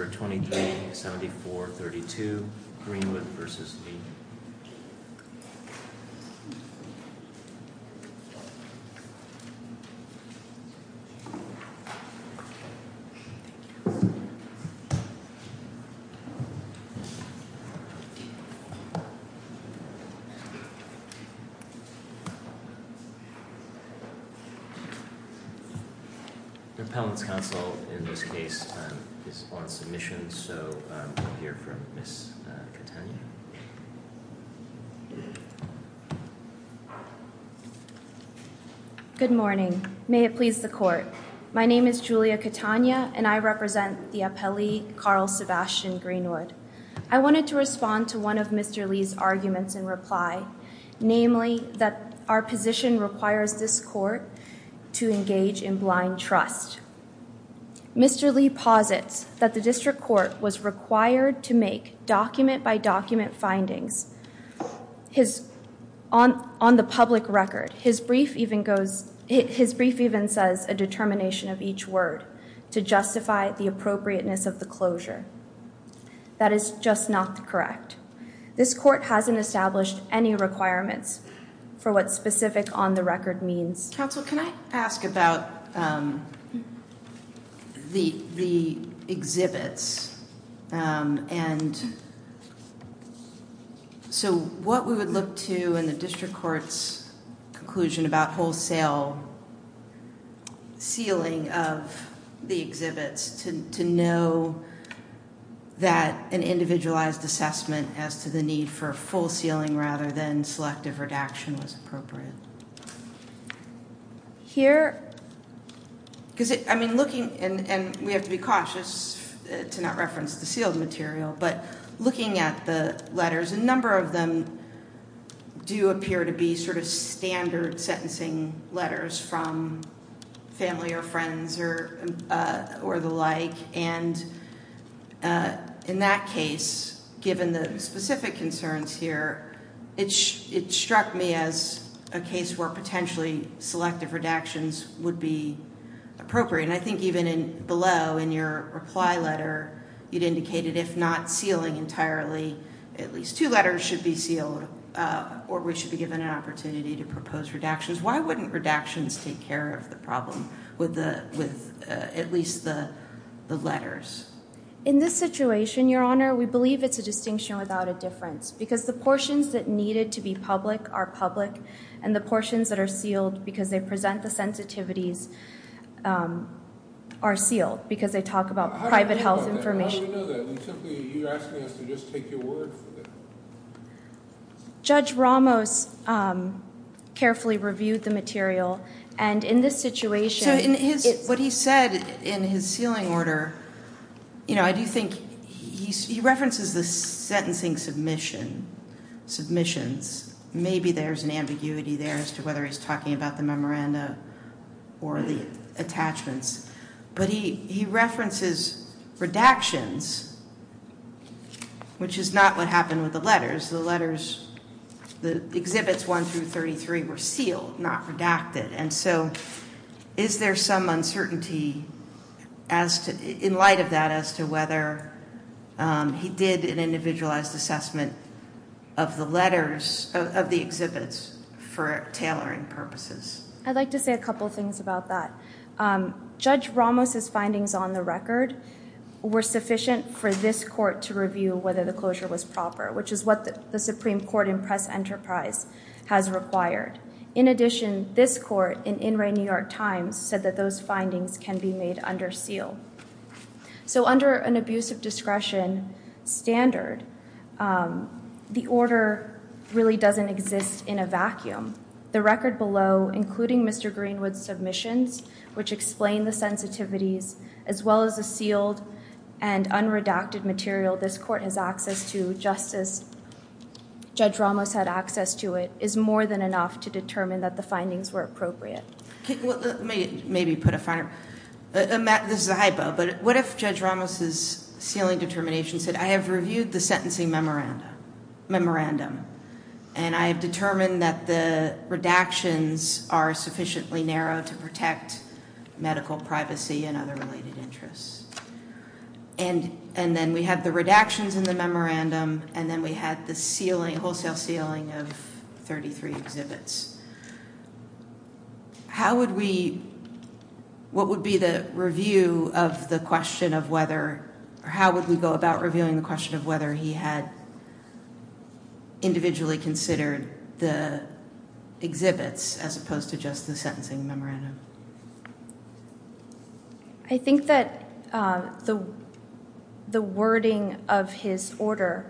23-74-32 Greenwood v. Lee Greenwood 23-74-32 Greenwood v. Lee Good morning. May it please the court. My name is Julia Catania and I represent the appellee Carl Sebastian Greenwood. I wanted to respond to one of Mr. Lee's arguments in reply, namely that our position requires this court to engage in blind trust. Mr. Lee posits that the district court was required to make document-by-document findings on the public record. His brief even says a determination of each word to justify the appropriateness of the closure. That is just not correct. This court hasn't established any requirements for what specific on the record means. Counsel, can I ask about the exhibits? And so what we would look to in the district court's conclusion about wholesale sealing of the exhibits to know that an individualized assessment as to the need for full sealing rather than selective redaction was appropriate. Here, because I mean looking, and we have to be cautious to not reference the sealed material, but looking at the letters, a number of them do appear to be sort of standard sentencing letters from family or friends or the like. And in that case, given the specific concerns here, it struck me as a case where potentially selective redactions would be appropriate. And I think even below in your reply letter, you'd indicated if not sealing entirely, at least two letters should be sealed or we should be given an opportunity to propose redactions. Why wouldn't redactions take care of the problem with at least the letters? In this situation, Your Honor, we believe it's a distinction without a difference because the portions that needed to be public are public and the portions that are sealed because they present the sensitivities are sealed because they talk about private health information. Judge Ramos carefully reviewed the material and in this situation, what he said in his sealing order, you know, I do think he references the sentencing submissions. Maybe there's an ambiguity there as to whether he's talking about the memoranda or the attachments, but he references redactions, which is not what happened with the letters. The letters, the exhibits 1 through 33, were sealed, not redacted. And so, is there some uncertainty in light of that as to whether he did an individualized assessment of the letters of the exhibits for tailoring purposes? I'd like to say a couple things about that. Judge Ramos's findings on the record were sufficient for this court to review whether the closure was proper, which is what the Supreme Court in press enterprise has required. In addition, this court in In Re New York Times said that those findings can be made under seal. So under an abusive discretion standard, the order really doesn't exist in a vacuum. The record below, including Mr. Greenwood's submissions, which explain the sensitivities, as well as the sealed and unredacted material this court has access to, just as Judge Ramos had access to it, is more than enough to determine that the findings were appropriate. Let me maybe put a finer, this is a but what if Judge Ramos's sealing determination said, I have reviewed the sentencing memorandum, memorandum, and I have determined that the redactions are sufficiently narrow to protect medical privacy and other related interests. And then we had the redactions in the memorandum, and then we had the sealing, wholesale sealing of 33 exhibits. How would we, what would be the review of the question of whether, how would we go about reviewing the question of whether he had individually considered the exhibits as opposed to just the sentencing memorandum? I think that the wording of his order,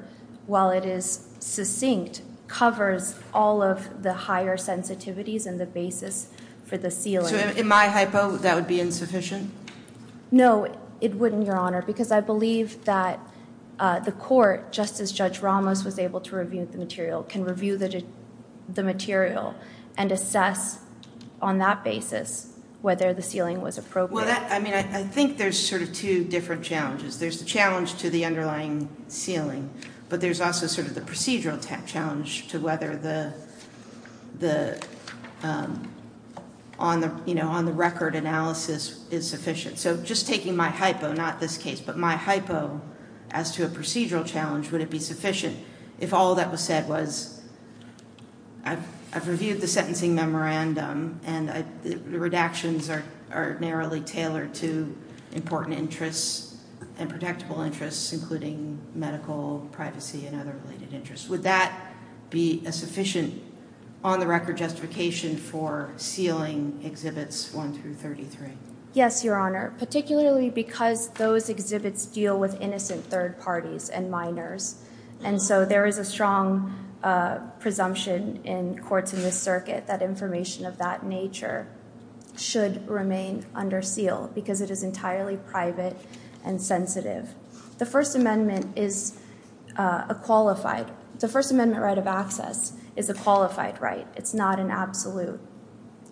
while it is succinct, covers all of the higher sensitivities and the ceiling. So in my hypo, that would be insufficient? No, it wouldn't, Your Honor, because I believe that the court, just as Judge Ramos was able to review the material, can review the material and assess on that basis whether the sealing was appropriate. Well, I mean, I think there's sort of two different challenges. There's the challenge to the underlying sealing, but there's also sort of the procedural challenge to whether the, you know, on-the-record analysis is sufficient. So just taking my hypo, not this case, but my hypo as to a procedural challenge, would it be sufficient if all that was said was, I've reviewed the sentencing memorandum, and the redactions are narrowly tailored to important interests and protectable interests, including medical privacy and other related interests? Would that be a sufficient on-the-record justification for sealing Exhibits 1 through 33? Yes, Your Honor, particularly because those exhibits deal with innocent third parties and minors, and so there is a strong presumption in courts in this circuit that information of that nature should remain under seal because it is entirely private and sensitive. The First Amendment is a qualified, the First Amendment right of access is a qualified right. It's not an absolute.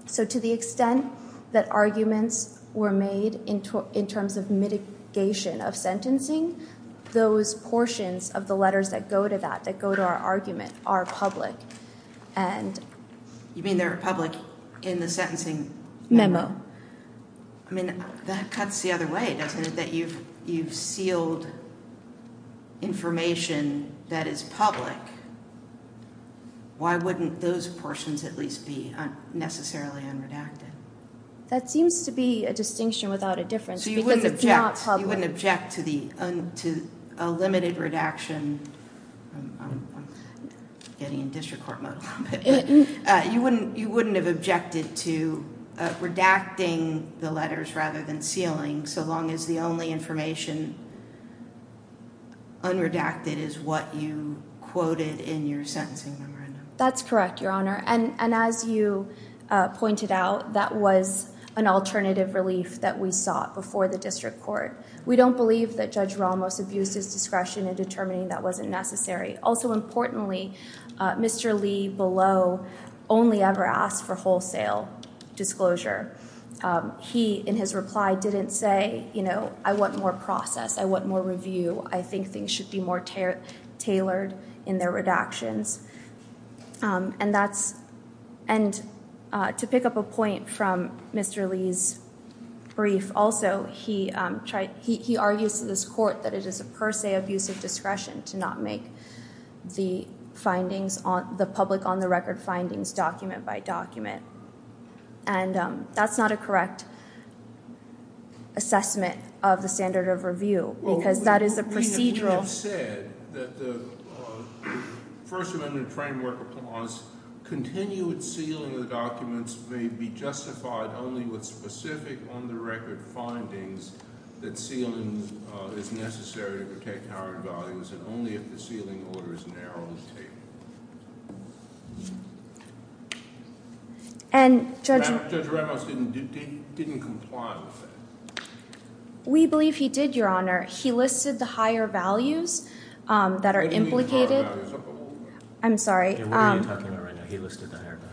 So to the extent that arguments were made in terms of mitigation of sentencing, those portions of the letters that go to that, that go to our argument, are public. You mean they're public in the sentencing memo? I mean, that cuts the other way, doesn't it? That you've sealed information that is public. Why wouldn't those portions at least be necessarily unredacted? That seems to be a distinction without a difference because it's not public. So you wouldn't object to a limited redaction, I'm getting in district court mode a little bit, but you wouldn't have objected to redacting the letters rather than sealing so long as the only information unredacted is what you quoted in your sentencing memorandum? That's correct, Your Honor, and as you pointed out, that was an alternative relief that we sought before the district court. We don't believe that Judge Ramos abuses discretion in determining that wasn't necessary. Also importantly, Mr. Lee below only ever asked for wholesale disclosure. He, in his reply, didn't say, you know, I want more process. I want more review. I think things should be more tailored in their redactions. And to pick up a point from Mr. Lee's brief, he argues to this court that it is a per se abuse of discretion to not make the findings, the public on the record findings, document by document. And that's not a correct assessment of the standard of review because that is a procedural... We have said that the First Amendment Framework Clause continued sealing the documents may be justified only with specific on the record findings that sealing is necessary to protect higher values and only if the sealing order is narrowed. And Judge Ramos didn't comply with that. We believe he did, Your Honor. He listed the higher values that are implicated. I'm sorry. What are you talking about right now? He listed the higher values.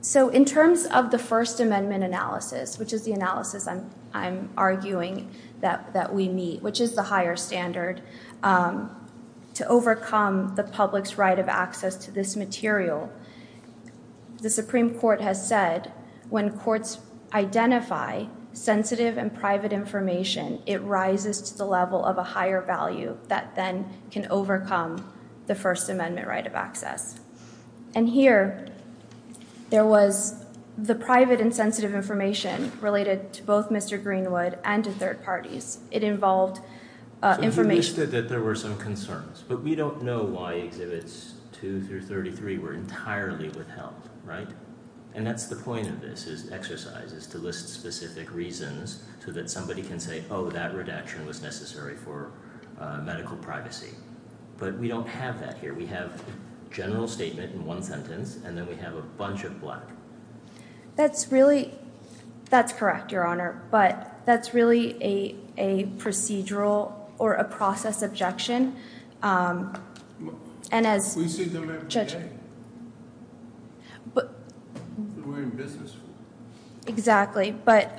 So in terms of the First Amendment analysis, which is the analysis I'm arguing that we meet, which is the higher standard to overcome the public's right of access to this material, the Supreme Court has said when courts identify sensitive and private information, it rises to the level of a higher value that then can overcome the First Amendment right of access. And here, there was the private and sensitive information related to both Mr. Greenwood and to third parties. It involved information... So he listed that there were some concerns, but we don't know why Exhibits 2 through 33 were entirely withheld, right? And that's the point of exercise, is to list specific reasons so that somebody can say, oh, that redaction was necessary for medical privacy. But we don't have that here. We have a general statement in one sentence, and then we have a bunch of black. That's really... That's correct, Your Honor, but that's really a procedural or a process objection. And as... We see them every day. We're in business. Exactly. But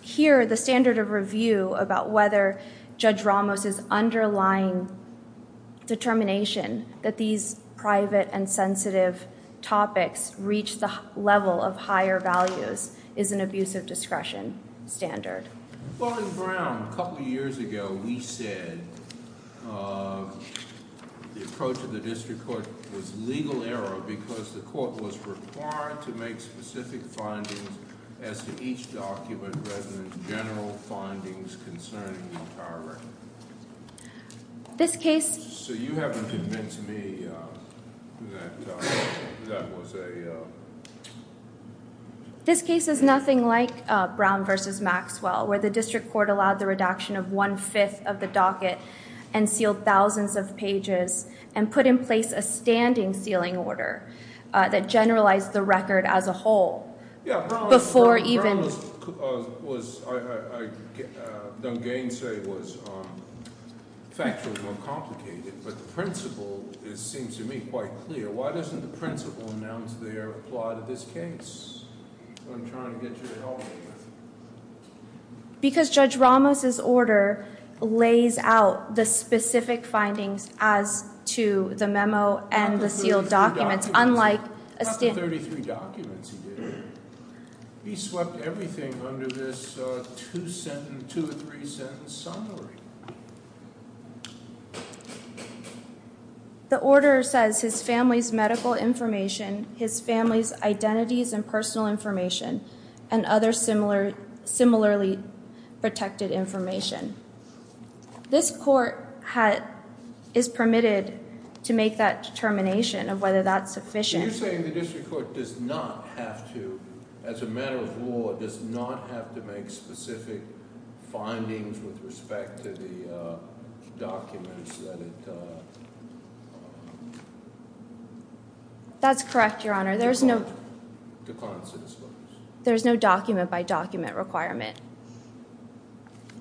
here, the standard of review about whether Judge Ramos's underlying determination that these private and sensitive topics reach the level of higher values is an abuse of discretion standard. Well, in Brown, a couple of years ago, we said the approach of the district court was legal error because the court was required to make specific findings as to each document resonant general findings concerning the entire record. This case... So you haven't convinced me that that was a... No. This case is nothing like Brown versus Maxwell, where the district court allowed the redaction of one-fifth of the docket and sealed thousands of pages and put in place a standing sealing order that generalized the record as a whole before even... Yeah, Brown was... I don't gainsay was factually more complicated, but the principle seems to me quite clear. Why doesn't the principle announce their plot of this case? I'm trying to get you to help me with it. Because Judge Ramos's order lays out the specific findings as to the memo and the sealed documents, unlike a... Not the 33 documents he did. He swept everything under this two-sentence, two or three-sentence summary. The order says his family's medical information, his family's identities and personal information, and other similarly protected information. This court is permitted to make that determination of whether that's sufficient... Are you saying the district court does not have to, as a matter of law, does not have to make specific findings with respect to the documents that it... That's correct, Your Honor. There's no... Declines to disclose. There's no document-by-document requirement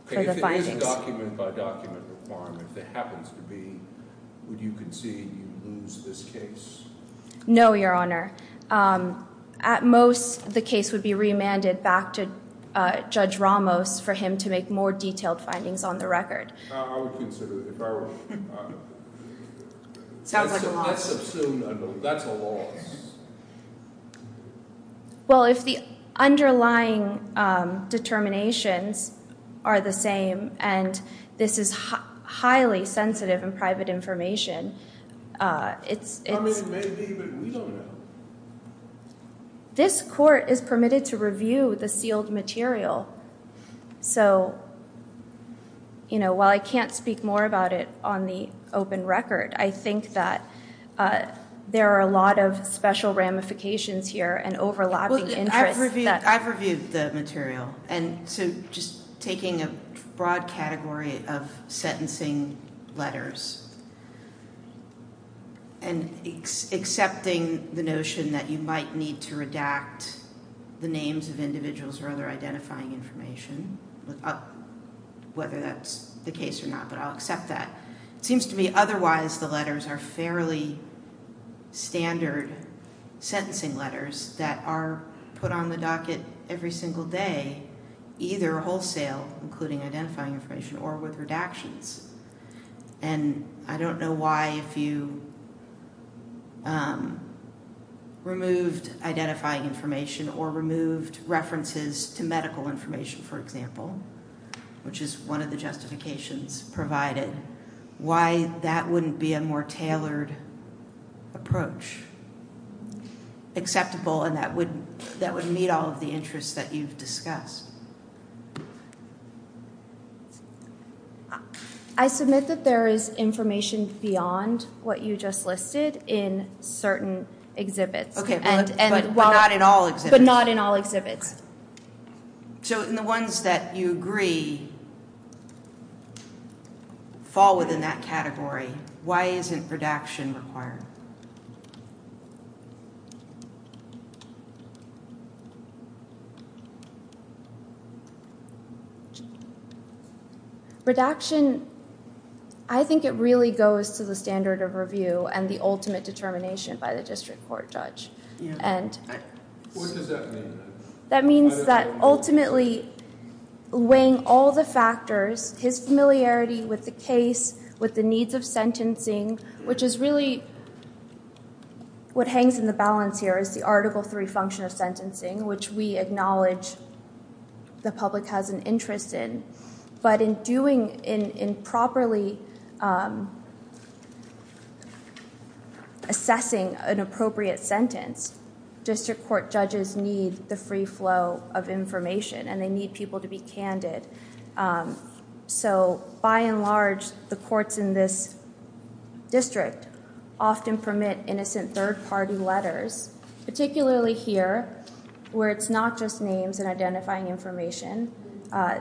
for the findings. If there is a document-by-document requirement, if there happens to be, would you concede you lose this case? No, Your Honor. At most, the case would be remanded back to Judge Ramos for him to make more detailed findings on the record. I would consider it, if I were... Sounds like a loss. That's a loss. Well, if the underlying determinations are the same, and this is highly sensitive and private information, it's... I mean, maybe, but we don't know. This court is permitted to review the sealed material. So, while I can't speak more about it on the open record, I think that there are a lot of special ramifications here and overlapping interests that... I've reviewed the material. And so, just taking a broad category of sentencing letters, and accepting the notion that you might need to redact the names of individuals or other identifying information, whether that's the case or not, but I'll accept that. It seems to me, otherwise, the letters are fairly standard sentencing letters that are put on the docket every single day, either wholesale, including identifying information, or with redactions. And I don't know why, if you removed identifying information or removed references to medical information, for example, which is one of the justifications provided, why that wouldn't be a more tailored approach, acceptable, and that would meet all of the interests that you've discussed. I submit that there is information beyond what you just listed in certain exhibits. Okay, but not in all exhibits. But not in all exhibits. So, and the ones that you agree fall within that category, why isn't redaction required? Redaction, I think it really goes to the standard of review and the ultimate determination by the district court judge. What does that mean? That means that, ultimately, weighing all the factors, his familiarity with the case, with the needs of sentencing, which is really what hangs in the balance here, is the Article 3 function of sentencing, which we acknowledge the public has an interest in. But in doing, in properly assessing an appropriate sentence, district court judges need the free flow of information, and they need people to be candid. So, by and large, the courts in this district often permit innocent third-party letters, particularly here, where it's not just names and identifying information.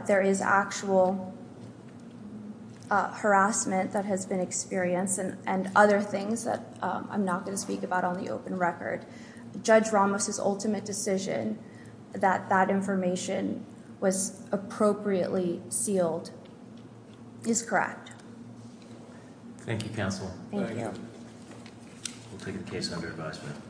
There is actual harassment that has been experienced, and other things that I'm not going to speak about on the open record. Judge Ramos's ultimate decision that that information was appropriately sealed is correct. Thank you, counsel. Thank you. We'll take the case under advisement.